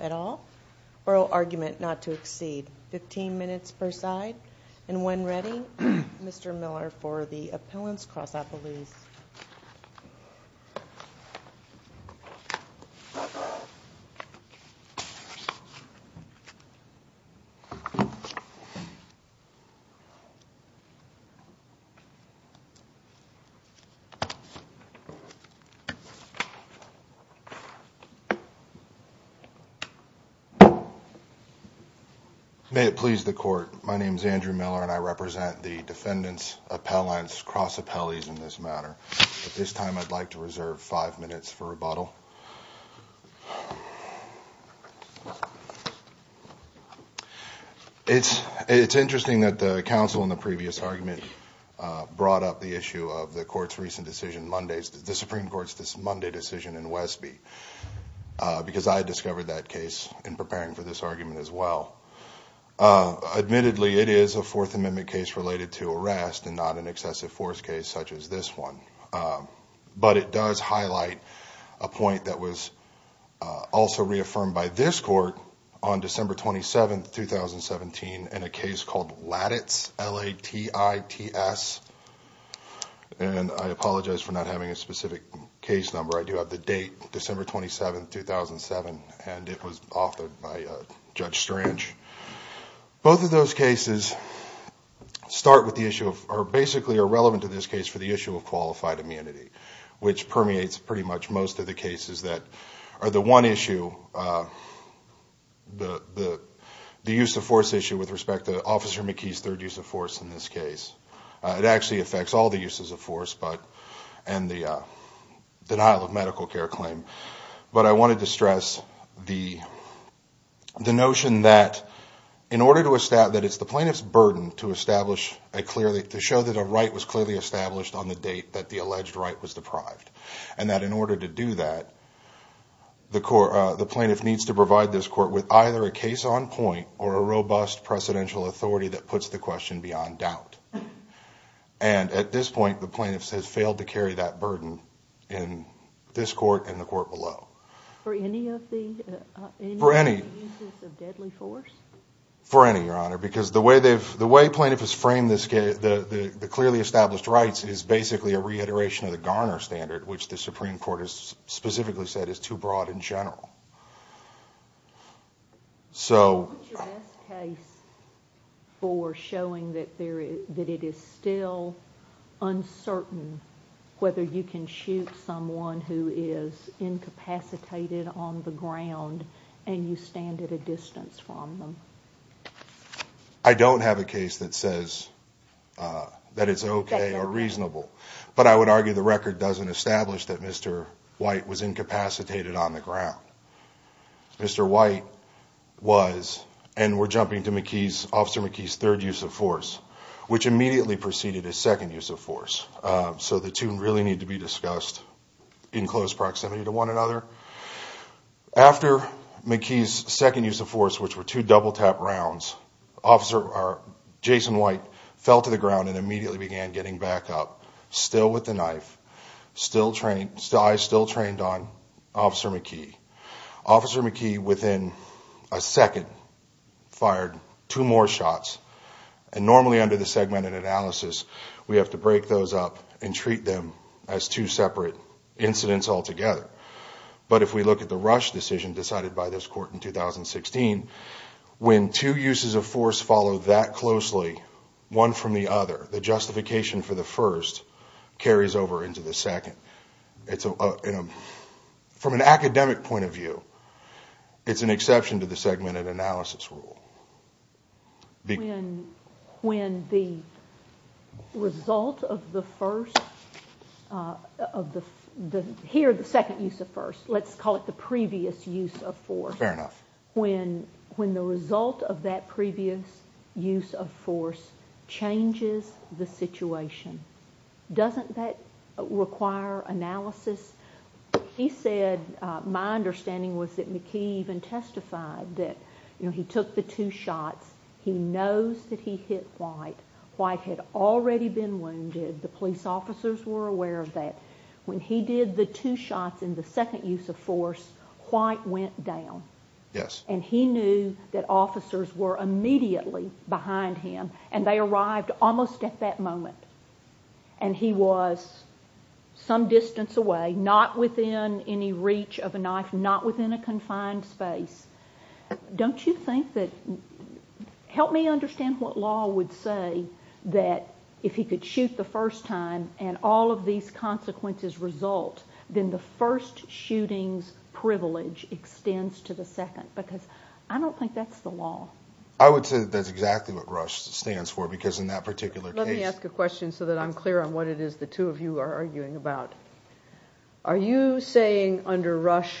at all. Oral argument not to exceed. 15 minutes per side. And when ready, Mr. Miller for the May it please the court. My name is Andrew Miller and I represent the defendants appellants cross appellees in this matter. At this time, I'd like to reserve 5 minutes for rebuttal. It's it's interesting that the council in the previous argument brought up the issue of the court's recent decision Mondays. The Supreme Court's this Monday decision in Westby because I discovered that case in preparing for this argument as well. Admittedly, it is a 4th Amendment case related to arrest and not an excessive force case such as this one. But it does highlight a point that was also reaffirmed by this court on December 27th, 2017, and a case called Lattice L.A. T. I. T. S. And I apologize for not having a specific case number. I do have the date December 27th, 2007, and it was offered by Judge Strange. Both of those cases start with the issue of are basically irrelevant to this case for the issue of qualified immunity, which permeates pretty much most of the cases that are the one issue. The the the use of force issue with respect to Officer McKee's third use of force in this case, it actually affects all the uses of force, but and the denial of medical care claim. But I wanted to stress the the notion that in order to establish that it's the plaintiff's burden to establish a clearly to show that a right was clearly established on the date that the alleged right was deprived and that in order to do that. The court, the plaintiff needs to provide this court with either a case on point or a robust presidential authority that puts the question beyond doubt. And at this point, the plaintiffs has failed to carry that burden in this court and the court below. For any of the for any for any, Your Honor, because the way they've the way plaintiff has framed this case, the clearly established rights is basically a reiteration of the Garner standard, which the Supreme Court has specifically said is too broad in general. So for showing that there is that it is still uncertain whether you can shoot someone who is incapacitated on the ground and you stand at a distance from them. I don't have a case that says that it's OK or reasonable, but I would argue the record doesn't establish that Mr. White was incapacitated on the ground. Mr. White was and we're jumping to McKee's officer McKee's third use of force, which immediately preceded his second use of force. So the two really need to be discussed in close proximity to one another. After McKee's second use of force, which were two double tap rounds, officer Jason White fell to the ground and immediately began getting back up, still with the knife, still training, still I still trained on officer McKee. Officer McKee within a second fired two more shots and normally under the segmented analysis, we have to break those up and treat them as two separate incidents altogether. But if we look at the rush decision decided by this court in 2016, when two uses of force follow that closely, one from the other, the justification for the first carries over into the second. From an academic point of view, it's an exception to the segmented analysis rule. When the result of the first, here the second use of force, let's call it the previous use of force, when the result of that previous use of force changes the situation, doesn't that require analysis? He said, my understanding was that McKee even testified that he took the two shots, he knows that he hit White, White had already been wounded, the police officers were aware of that, when he did the two shots in the second use of force, White went down. And he knew that officers were immediately behind him and they arrived almost at that moment and he was some distance away, not within any reach of a knife, not within a confined space. Don't you think that, help me understand what law would say that if he could shoot the first time and all of these consequences result, then the first shooting's privilege extends to the second, because I don't think that's the law. I would say that's exactly what RUSH stands for, because in that particular case. Let me ask a question so that I'm clear on what it is the two of you are arguing about. Are you saying under RUSH,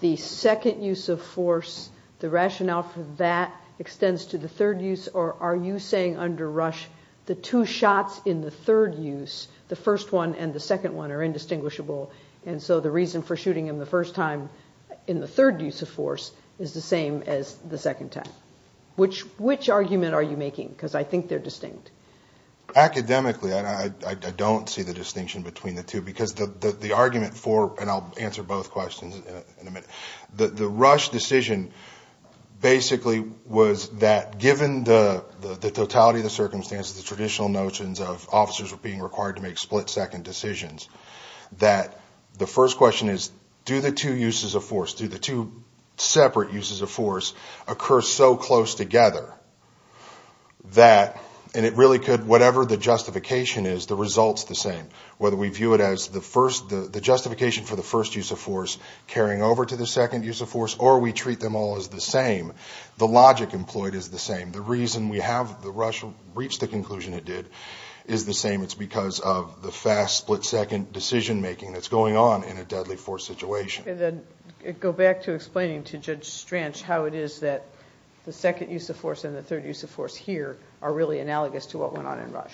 the second use of force, the rationale for that extends to the third use, or are you saying under RUSH, the two shots in the third use, the first one and the second one are indistinguishable, and so the reason for shooting him the first time in the third use of force is the same as the second time? Which argument are you making, because I think they're distinct. Academically, I don't see the distinction between the two, because the argument for, and I'll answer both questions in a minute. The RUSH decision basically was that given the totality of the circumstances, the traditional notions of officers being required to make split-second decisions, that the first question is, do the two uses of force, do the two separate uses of force occur so close together that, and it really could, whatever the justification is, the result's the same. Whether we view it as the justification for the first use of force carrying over to the second use of force, or we treat them all as the same, the logic employed is the same. The reason we have the RUSH reach the conclusion it did is the same. It's because of the fast split-second decision-making that's going on in a deadly force situation. And then go back to explaining to Judge Stranch how it is that the second use of force and the third use of force here are really analogous to what went on in RUSH.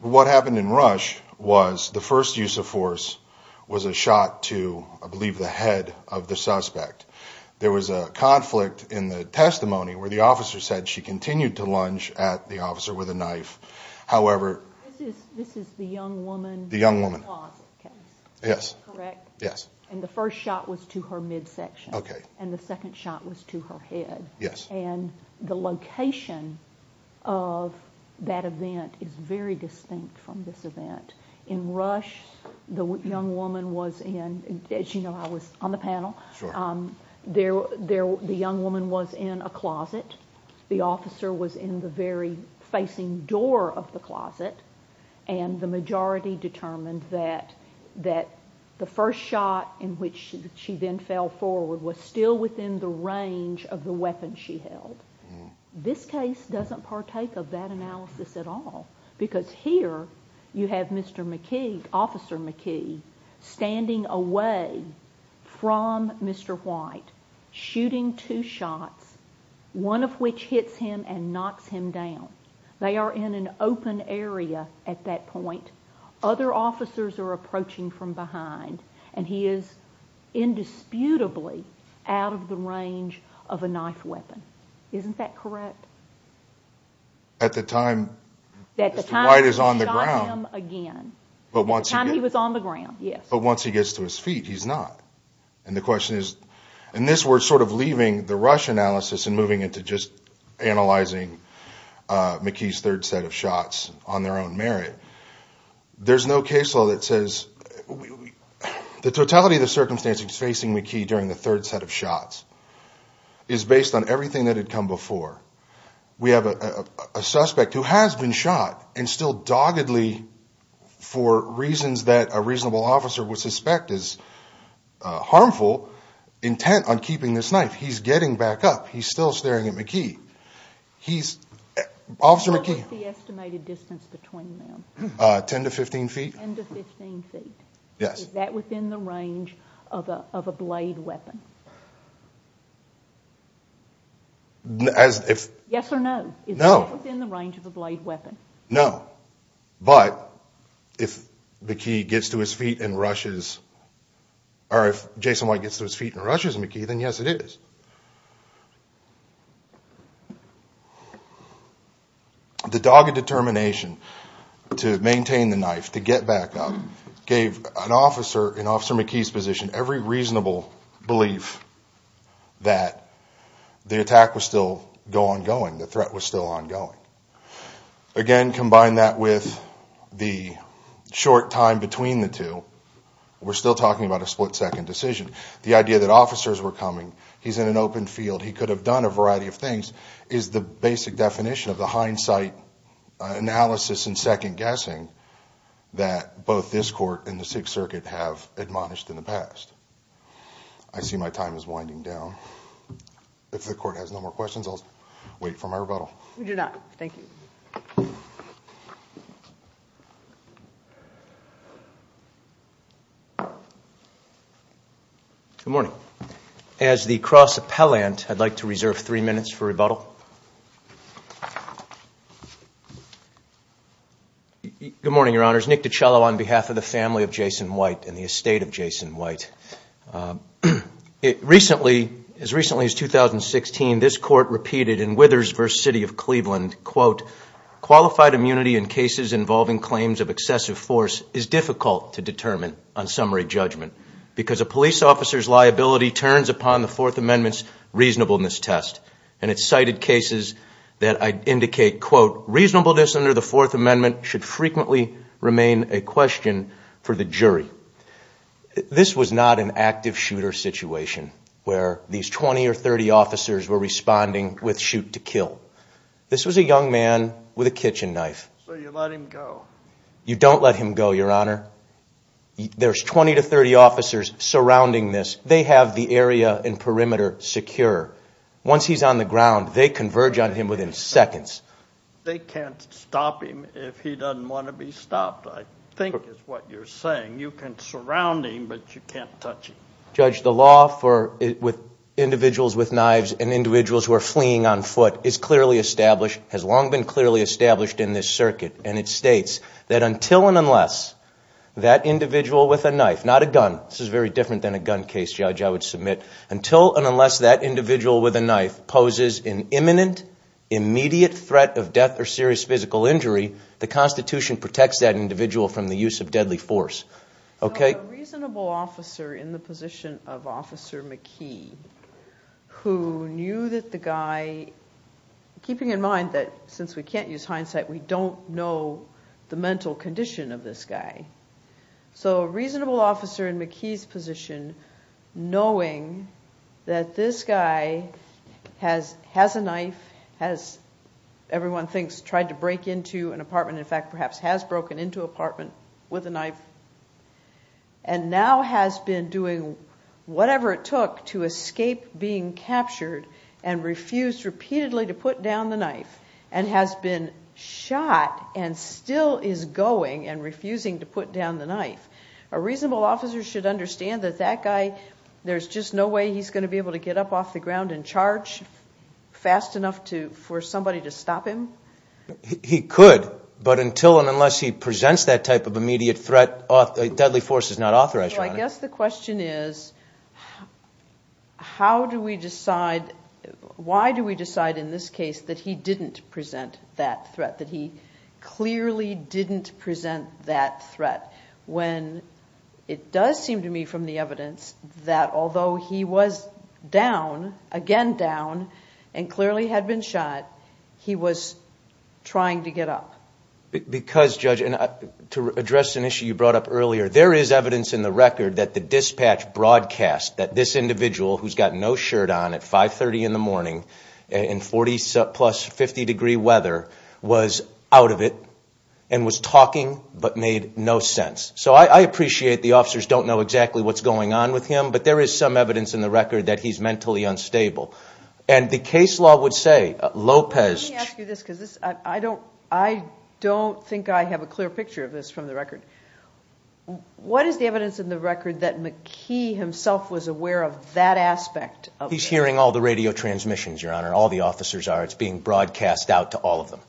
What happened in RUSH was the first use of force was a shot to, I believe, the head of the suspect. There was a conflict in the testimony where the officer said she continued to lunge at the officer with a knife. However... This is the young woman. The young woman. In the closet case. Yes. Is that correct? Yes. And the first shot was to her midsection. Okay. And the second shot was to her head. Yes. And the location of that event is very distinct from this event. In RUSH, the young woman was in, as you know, I was on the panel. Sure. The young woman was in a closet. The officer was in the very facing door of the closet. And the majority determined that the first shot in which she then fell forward was still within the range of the weapon she held. This case doesn't partake of that analysis at all. Because here you have Mr. McKee, Officer McKee, standing away from Mr. White, shooting two shots, one of which hits him and knocks him down. They are in an open area at that point. Other officers are approaching from behind. And he is indisputably out of the range of a knife weapon. Isn't that correct? At the time Mr. White is on the ground... At the time he shot him again. At the time he was on the ground, yes. But once he gets to his feet, he's not. And the question is... And this we're sort of leaving the RUSH analysis and moving into just analyzing McKee's third set of shots on their own merit. There's no case law that says... The totality of the circumstances facing McKee during the third set of shots is based on everything that had come before. We have a suspect who has been shot and still doggedly, for reasons that a reasonable officer would suspect is harmful, intent on keeping this knife. He's getting back up. He's still staring at McKee. He's... Officer McKee... What was the estimated distance between them? 10 to 15 feet. 10 to 15 feet. Yes. Is that within the range of a blade weapon? As if... Yes or no? No. Is that within the range of a blade weapon? No. But... If McKee gets to his feet and rushes... Or if Jason White gets to his feet and rushes McKee, then yes it is. The dogged determination to maintain the knife, to get back up, gave an officer in Officer McKee's position every reasonable belief... That the attack was still ongoing. The threat was still ongoing. Again, combine that with the short time between the two, we're still talking about a split second decision. The idea that officers were coming, he's in an open field, he could have done a variety of things, is the basic definition of the hindsight analysis and second guessing... That both this court and the Sixth Circuit have admonished in the past. I see my time is winding down. If the court has no more questions, I'll wait for my rebuttal. We do not. Thank you. Good morning. As the cross appellant, I'd like to reserve three minutes for rebuttal. Good morning, your honors. Nick DiCello on behalf of the family of Jason White and the estate of Jason White. As recently as 2016, this court repeated in Withers v. City of Cleveland, quote, qualified immunity in cases involving claims of excessive force is difficult to determine on summary judgment... Because a police officer's liability turns upon the Fourth Amendment's reasonableness test... And it cited cases that I'd indicate, quote, reasonableness under the Fourth Amendment should frequently remain a question for the jury. This was not an active shooter situation where these 20 or 30 officers were responding with shoot to kill. This was a young man with a kitchen knife. So you let him go? You don't let him go, your honor. There's 20 to 30 officers surrounding this. They have the area and perimeter secure. Once he's on the ground, they converge on him within seconds. They can't stop him if he doesn't want to be stopped, I think is what you're saying. You can surround him, but you can't touch him. Judge, the law for individuals with knives and individuals who are fleeing on foot is clearly established, has long been clearly established in this circuit, and it states that until and unless that individual with a knife, not a gun, this is very different than a gun case, Judge, I would submit, until and unless that individual with a knife poses an imminent, immediate threat of death or serious physical injury, the Constitution protects that individual from the use of deadly force. A reasonable officer in the position of Officer McKee, who knew that the guy, keeping in mind that since we can't use hindsight, we don't know the mental condition of this guy. So a reasonable officer in McKee's position, knowing that this guy has a knife, has, everyone thinks, tried to break into an apartment, in fact, perhaps has broken into an apartment with a knife, and now has been doing whatever it took to escape being captured and refused repeatedly to put down the knife, and has been shot and still is going and refusing to put down the knife. A reasonable officer should understand that that guy, there's just no way he's going to be able to get up off the ground and charge fast enough for somebody to stop him. He could, but until and unless he presents that type of immediate threat, deadly force is not authorized, Your Honor. I guess the question is, how do we decide, why do we decide in this case that he didn't present that threat, that he clearly didn't present that threat, when it does seem to me from the evidence that although he was down, again down, and clearly had been shot, he was trying to get up. Because, Judge, and to address an issue you brought up earlier, there is evidence in the record that the dispatch broadcast that this individual, who's got no shirt on at 5.30 in the morning in 40 plus, 50 degree weather, was out of it and was talking but made no sense. So I appreciate the officers don't know exactly what's going on with him, but there is some evidence in the record that he's mentally unstable. And the case law would say, Lopez... Let me ask you this, because I don't think I have a clear picture of this from the record. What is the evidence in the record that McKee himself was aware of that aspect? He's hearing all the radio transmissions, Your Honor, all the officers are. It's being broadcast out to all of them.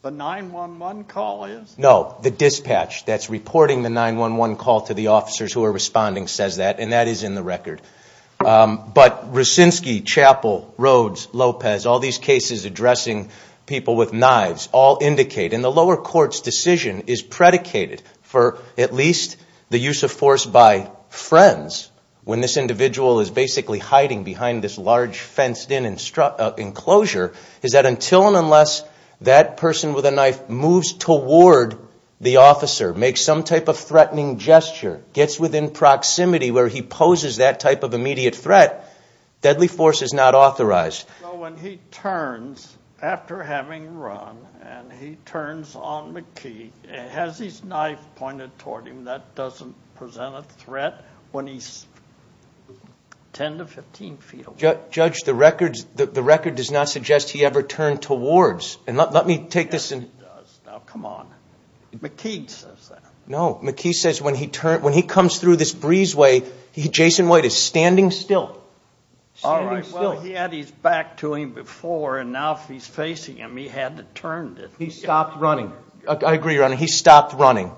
The 911 call is? No, the dispatch that's reporting the 911 call to the officers who are responding says that, and that is in the record. But Racinski, Chappell, Rhodes, Lopez, all these cases addressing people with knives all indicate, and the lower court's decision is predicated for at least the use of force by friends when this individual is basically hiding behind this large fenced-in enclosure, is that until and unless that person with a knife moves toward the officer, makes some type of threatening gesture, gets within proximity where he poses that type of immediate threat, deadly force is not authorized. So when he turns, after having run, and he turns on McKee, has his knife pointed toward him, that doesn't present a threat when he's 10 to 15 feet away? Judge, the record does not suggest he ever turned towards. Yes, it does. Now, come on. McKee says that. No, McKee says when he comes through this breezeway, Jason White is standing still. All right, well, he had his back to him before, and now if he's facing him, he had to turn. He stopped running. I agree, Your Honor, he stopped running.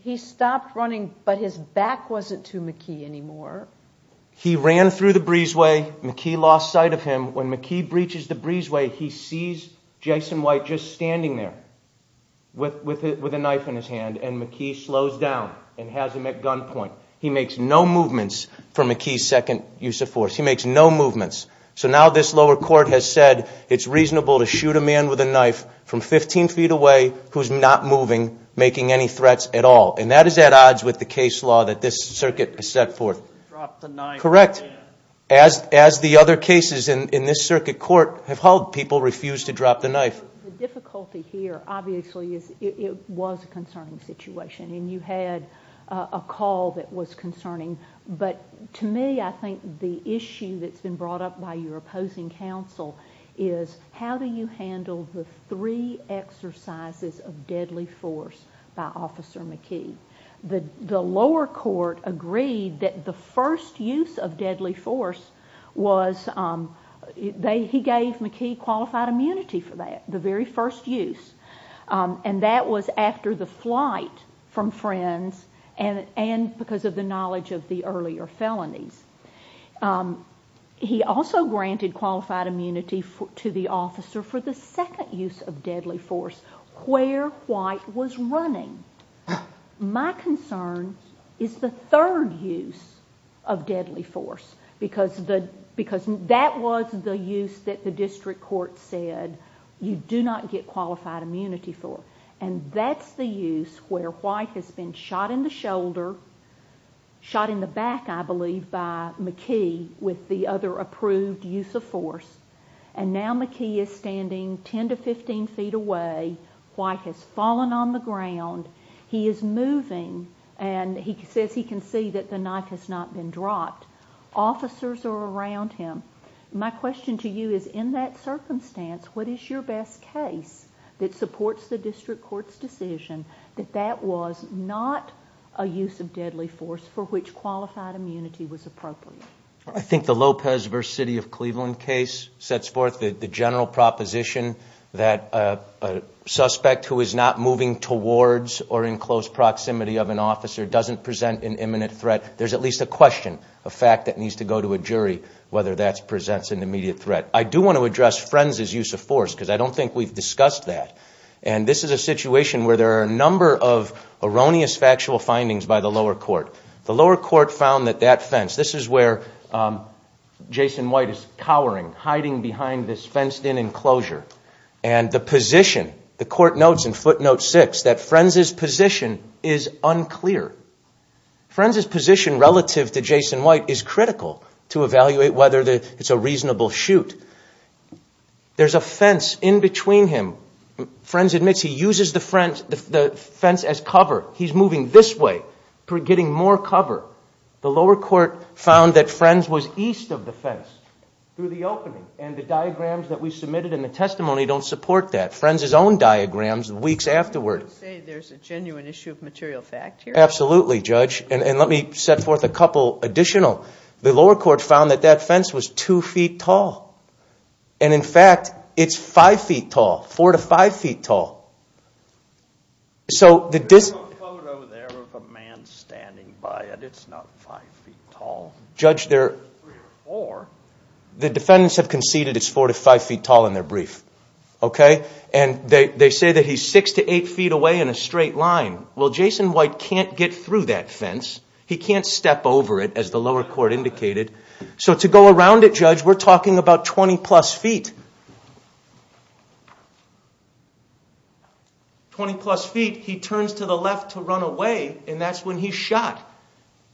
He stopped running, but his back wasn't to McKee anymore. He ran through the breezeway. McKee lost sight of him. When McKee breaches the breezeway, he sees Jason White just standing there with a knife in his hand, and McKee slows down and has him at gunpoint. He makes no movements for McKee's second use of force. He makes no movements. So now this lower court has said it's reasonable to shoot a man with a knife from 15 feet away who's not moving, making any threats at all, and that is at odds with the case law that this circuit has set forth. Drop the knife. Correct. As the other cases in this circuit court have held, people refuse to drop the knife. The difficulty here, obviously, is it was a concerning situation, and you had a call that was concerning. But to me, I think the issue that's been brought up by your opposing counsel is how do you handle the three exercises of deadly force by Officer McKee? The lower court agreed that the first use of deadly force was— he gave McKee qualified immunity for that, the very first use, and that was after the flight from Friends and because of the knowledge of the earlier felonies. He also granted qualified immunity to the officer for the second use of deadly force, where White was running. My concern is the third use of deadly force because that was the use that the district court said you do not get qualified immunity for, and that's the use where White has been shot in the shoulder, shot in the back, I believe, by McKee with the other approved use of force, and now McKee is standing 10 to 15 feet away. White has fallen on the ground. He is moving, and he says he can see that the knife has not been dropped. Officers are around him. My question to you is in that circumstance, what is your best case that supports the district court's decision that that was not a use of deadly force for which qualified immunity was appropriate? I think the Lopez v. City of Cleveland case sets forth the general proposition that a suspect who is not moving towards or in close proximity of an officer doesn't present an imminent threat. But there's at least a question, a fact that needs to go to a jury, whether that presents an immediate threat. I do want to address Frenz's use of force because I don't think we've discussed that, and this is a situation where there are a number of erroneous factual findings by the lower court. The lower court found that that fence, this is where Jason White is cowering, hiding behind this fenced-in enclosure, and the position, the court notes in footnote 6, that Frenz's position is unclear. Frenz's position relative to Jason White is critical to evaluate whether it's a reasonable shoot. There's a fence in between him. Frenz admits he uses the fence as cover. He's moving this way, getting more cover. The lower court found that Frenz was east of the fence through the opening, and the diagrams that we submitted in the testimony don't support that. Frenz's own diagrams weeks afterward. I would say there's a genuine issue of material fact here. Absolutely, Judge, and let me set forth a couple additional. The lower court found that that fence was 2 feet tall, and in fact it's 5 feet tall, 4 to 5 feet tall. There's no photo there of a man standing by it. It's not 5 feet tall. Judge, the defendants have conceded it's 4 to 5 feet tall in their brief, okay? And they say that he's 6 to 8 feet away in a straight line. Well, Jason White can't get through that fence. He can't step over it, as the lower court indicated. So to go around it, Judge, we're talking about 20-plus feet. Twenty-plus feet, he turns to the left to run away, and that's when he's shot.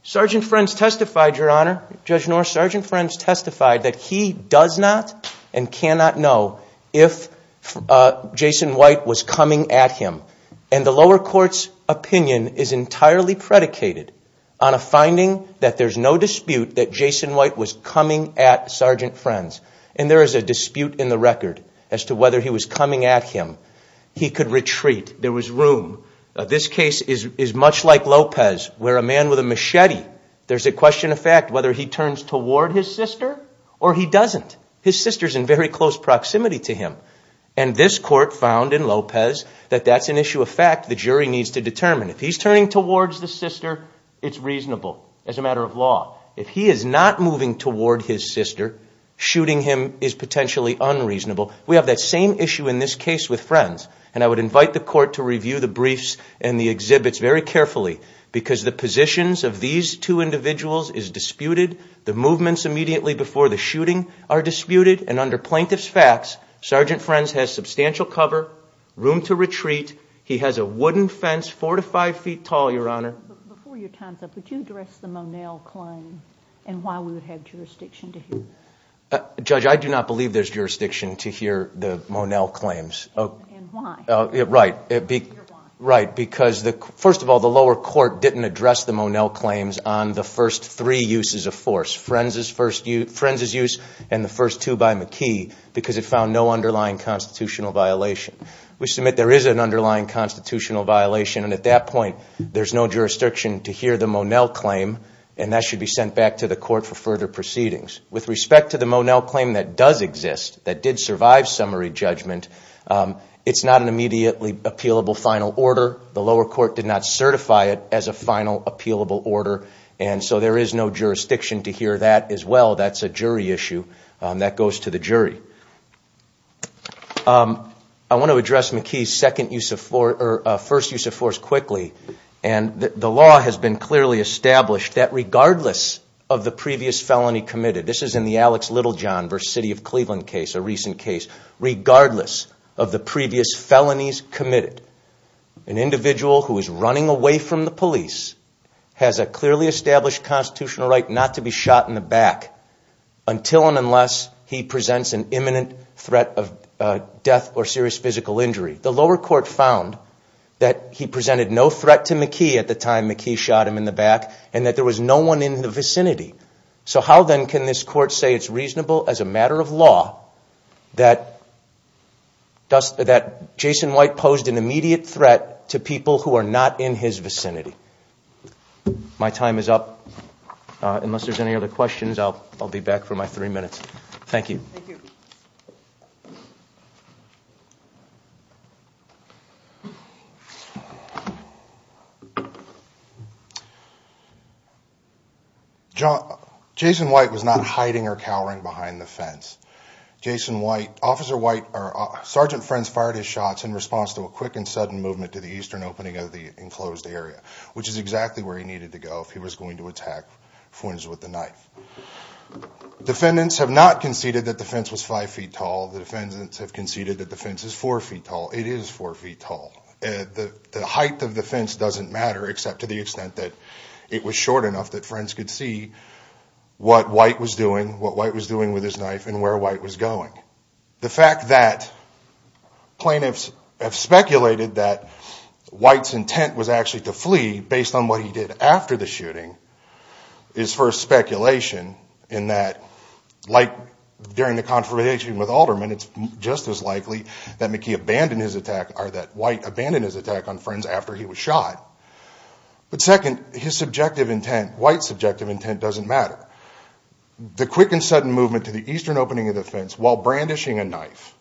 Sergeant Frenz testified, Your Honor. Sergeant Frenz testified that he does not and cannot know if Jason White was coming at him, and the lower court's opinion is entirely predicated on a finding that there's no dispute that Jason White was coming at Sergeant Frenz, and there is a dispute in the record as to whether he was coming at him. He could retreat. There was room. This case is much like Lopez where a man with a machete, there's a question of fact whether he turns toward his sister or he doesn't. His sister's in very close proximity to him, and this court found in Lopez that that's an issue of fact the jury needs to determine. If he's turning towards the sister, it's reasonable as a matter of law. If he is not moving toward his sister, shooting him is potentially unreasonable. We have that same issue in this case with Frenz, and I would invite the court to review the briefs and the exhibits very carefully because the positions of these two individuals is disputed. The movements immediately before the shooting are disputed, and under plaintiff's facts, Sergeant Frenz has substantial cover, room to retreat. He has a wooden fence four to five feet tall, Your Honor. Before your time's up, would you address the Monell claim and why we would have jurisdiction to hear that? Judge, I do not believe there's jurisdiction to hear the Monell claims. And why? Right, because first of all, the lower court didn't address the Monell claims on the first three uses of force, Frenz's use and the first two by McKee, because it found no underlying constitutional violation. We submit there is an underlying constitutional violation, and at that point there's no jurisdiction to hear the Monell claim, and that should be sent back to the court for further proceedings. With respect to the Monell claim that does exist, that did survive summary judgment, it's not an immediately appealable final order. The lower court did not certify it as a final appealable order, and so there is no jurisdiction to hear that as well. That's a jury issue. That goes to the jury. I want to address McKee's first use of force quickly, and the law has been clearly established that regardless of the previous felony committed, this is in the Alex Littlejohn v. City of Cleveland case, a recent case, regardless of the previous felonies committed, an individual who is running away from the police has a clearly established constitutional right not to be shot in the back until and unless he presents an imminent threat of death or serious physical injury. The lower court found that he presented no threat to McKee at the time McKee shot him in the back, So how then can this court say it's reasonable as a matter of law that Jason White posed an immediate threat to people who are not in his vicinity? My time is up. Unless there's any other questions, I'll be back for my three minutes. Thank you. Jason White was not hiding or cowering behind the fence. Sergeant Frenz fired his shots in response to a quick and sudden movement to the eastern opening of the enclosed area, which is exactly where he needed to go if he was going to attack Frenz with a knife. Defendants have not conceded that the fence was five feet tall. The defendants have conceded that the fence is four feet tall. It is four feet tall. The height of the fence doesn't matter, except to the extent that it was short enough that Frenz could see what White was doing, what White was doing with his knife, and where White was going. The fact that plaintiffs have speculated that White's intent was actually to flee, based on what he did after the shooting, is first speculation in that, like during the confirmation with Alderman, it's just as likely that McKee abandoned his attack on Frenz after he was shot. But second, his subjective intent, White's subjective intent, doesn't matter. The quick and sudden movement to the eastern opening of the fence while brandishing a knife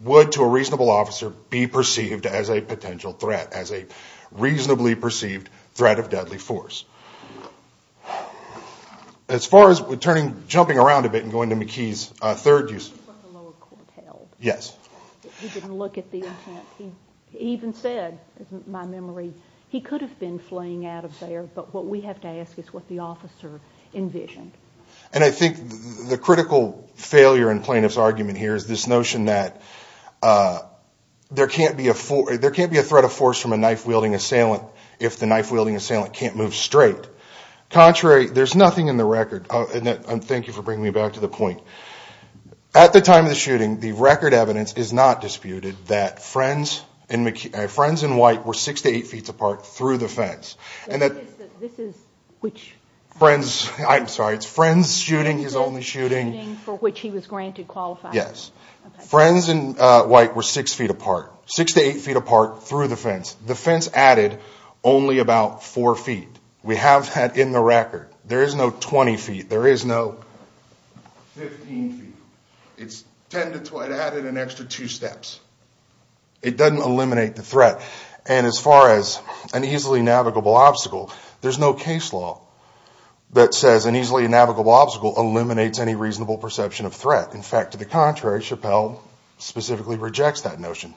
would, to a reasonable officer, be perceived as a potential threat, as a reasonably perceived threat of deadly force. As far as jumping around a bit and going to McKee's third use... Yes. He didn't look at the intent. He even said, in my memory, he could have been fleeing out of there, but what we have to ask is what the officer envisioned. And I think the critical failure in plaintiff's argument here is this notion that there can't be a threat of force from a knife-wielding assailant if the knife-wielding assailant can't move straight. Contrary, there's nothing in the record, and thank you for bringing me back to the point. At the time of the shooting, the record evidence is not disputed that Frenz and White were 6 to 8 feet apart through the fence. This is which? Frenz, I'm sorry, it's Frenz shooting, his only shooting. Frenz shooting for which he was granted qualified. Yes. Frenz and White were 6 feet apart, 6 to 8 feet apart through the fence. The fence added only about 4 feet. We have that in the record. There is no 20 feet. There is no 15 feet. It's 10 to 12. It added an extra two steps. It doesn't eliminate the threat. And as far as an easily navigable obstacle, there's no case law that says an easily navigable obstacle eliminates any reasonable perception of threat. In fact, to the contrary, Chappell specifically rejects that notion.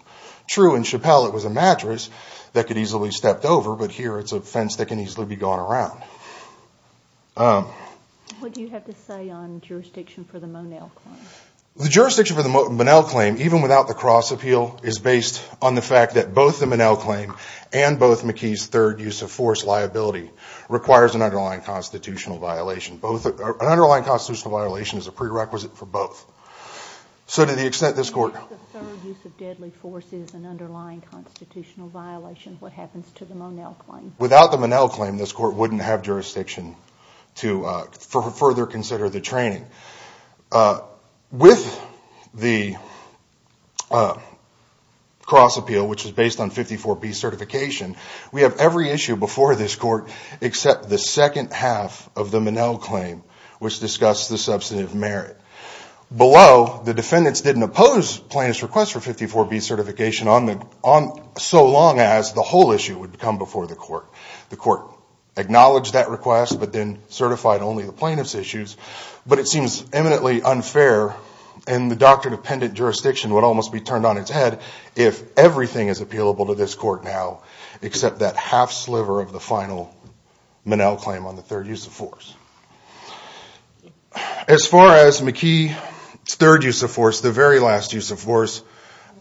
True, in Chappell it was a mattress that could easily be stepped over, but here it's a fence that can easily be gone around. What do you have to say on jurisdiction for the Monell claim? The jurisdiction for the Monell claim, even without the cross appeal, is based on the fact that both the Monell claim and both McKee's third use of force liability requires an underlying constitutional violation. An underlying constitutional violation is a prerequisite for both. So to the extent this court If the third use of deadly force is an underlying constitutional violation, what happens to the Monell claim? Without the Monell claim, this court wouldn't have jurisdiction to further consider the training. With the cross appeal, which is based on 54B certification, we have every issue before this court except the second half of the Monell claim, which discussed the substantive merit. Below, the defendants didn't oppose plaintiff's request for 54B certification so long as the whole issue would come before the court. The court acknowledged that request, but then certified only the plaintiff's issues. But it seems eminently unfair, and the doctor-dependent jurisdiction would almost be turned on its head if everything is appealable to this court now except that half sliver of the final Monell claim on the third use of force. As far as McKee's third use of force, the very last use of force,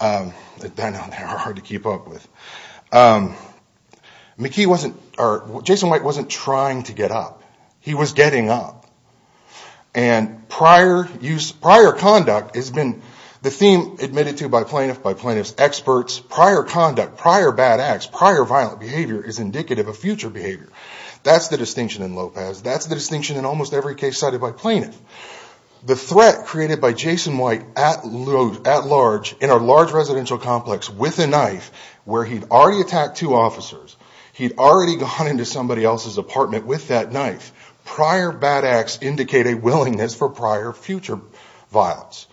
that I know they're hard to keep up with, Jason White wasn't trying to get up. He was getting up. And prior use, prior conduct, has been the theme admitted to by plaintiff by plaintiff's experts. Prior conduct, prior bad acts, prior violent behavior is indicative of future behavior. That's the distinction in Lopez. That's the distinction in almost every case cited by plaintiff. The threat created by Jason White at large in a large residential complex with a knife where he'd already attacked two officers, he'd already gone into somebody else's apartment with that knife, prior bad acts indicate a willingness for prior future violence.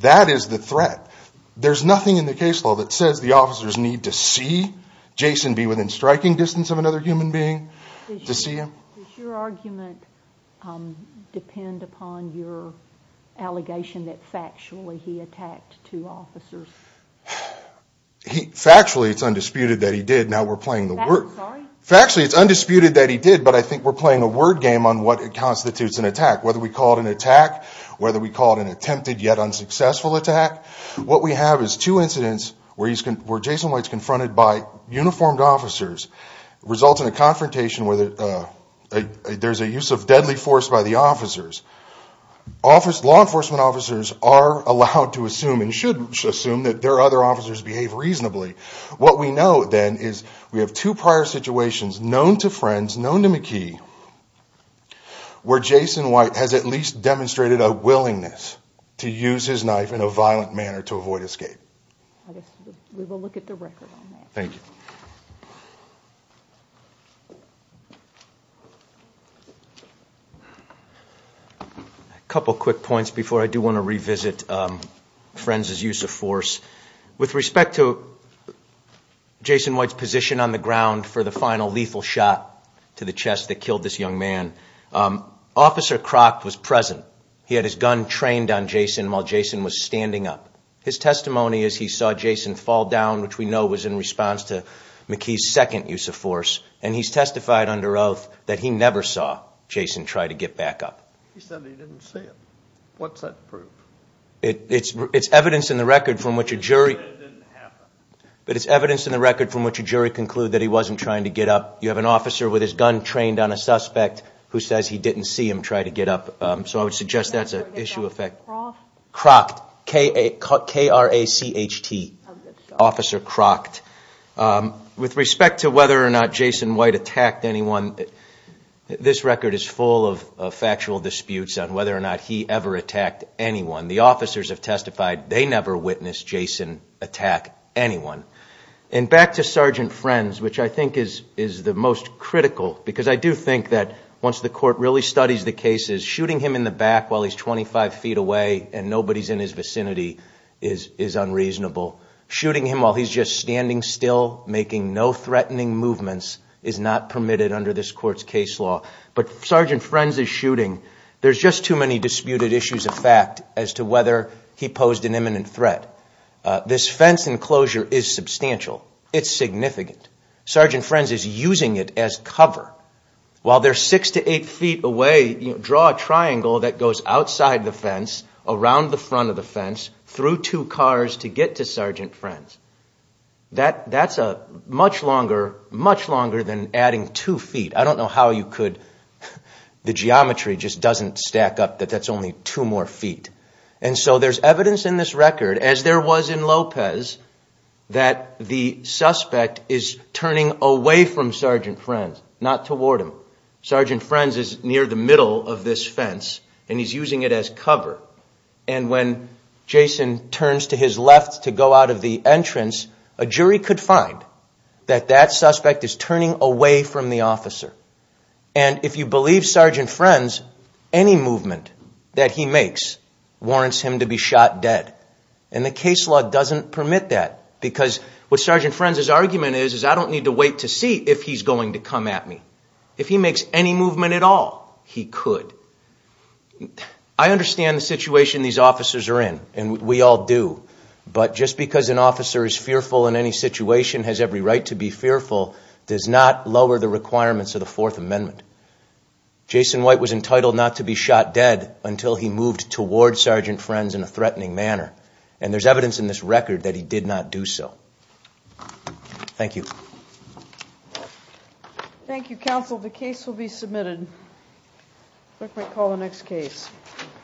That is the threat. There's nothing in the case law that says the officers need to see Jason be within striking distance of another human being to see him. Does your argument depend upon your allegation that factually he attacked two officers? Factually, it's undisputed that he did. Now we're playing the word. Factually, it's undisputed that he did, but I think we're playing a word game on what constitutes an attack, whether we call it an attack, whether we call it an attempted yet unsuccessful attack. What we have is two incidents where Jason White's confronted by uniformed officers, results in a confrontation where there's a use of deadly force by the officers. Law enforcement officers are allowed to assume and should assume that their other officers behave reasonably. What we know then is we have two prior situations known to Friends, known to McKee, where Jason White has at least demonstrated a willingness to use his knife in a violent manner to avoid escape. We will look at the record on that. Thank you. A couple quick points before I do want to revisit Friends' use of force. With respect to Jason White's position on the ground for the final lethal shot to the chest that killed this young man, Officer Croc was present. He had his gun trained on Jason while Jason was standing up. His testimony is he saw Jason fall down, which we know was in response to McKee's second use of force, and he's testified under oath that he never saw Jason try to get back up. He said he didn't see him. What's that prove? It's evidence in the record from which a jury... But it didn't happen. But it's evidence in the record from which a jury conclude that he wasn't trying to get up. You have an officer with his gun trained on a suspect who says he didn't see him try to get up. So I would suggest that's an issue of fact. Croc, K-R-A-C-H-T, Officer Croc. With respect to whether or not Jason White attacked anyone, this record is full of factual disputes on whether or not he ever attacked anyone. The officers have testified they never witnessed Jason attack anyone. And back to Sergeant Friends, which I think is the most critical, because I do think that once the court really studies the cases, shooting him in the back while he's 25 feet away and nobody's in his vicinity is unreasonable. Shooting him while he's just standing still, making no threatening movements, is not permitted under this court's case law. But Sergeant Friends' shooting, there's just too many disputed issues of fact as to whether he posed an imminent threat. This fence enclosure is substantial. It's significant. Sergeant Friends is using it as cover. While they're six to eight feet away, draw a triangle that goes outside the fence, around the front of the fence, through two cars to get to Sergeant Friends. That's much longer than adding two feet. I don't know how you could... The geometry just doesn't stack up that that's only two more feet. And so there's evidence in this record, as there was in Lopez, that the suspect is turning away from Sergeant Friends, not toward him. Sergeant Friends is near the middle of this fence, and he's using it as cover. And when Jason turns to his left to go out of the entrance, a jury could find that that suspect is turning away from the officer. And if you believe Sergeant Friends, any movement that he makes warrants him to be shot dead. And the case law doesn't permit that, because what Sergeant Friends' argument is, is I don't need to wait to see if he's going to come at me. If he makes any movement at all, he could. I understand the situation these officers are in, and we all do, but just because an officer is fearful in any situation, has every right to be fearful, does not lower the requirements of the Fourth Amendment. Jason White was entitled not to be shot dead until he moved toward Sergeant Friends in a threatening manner. And there's evidence in this record that he did not do so. Thank you. Thank you, counsel. The case will be submitted. Clerk may call the next case.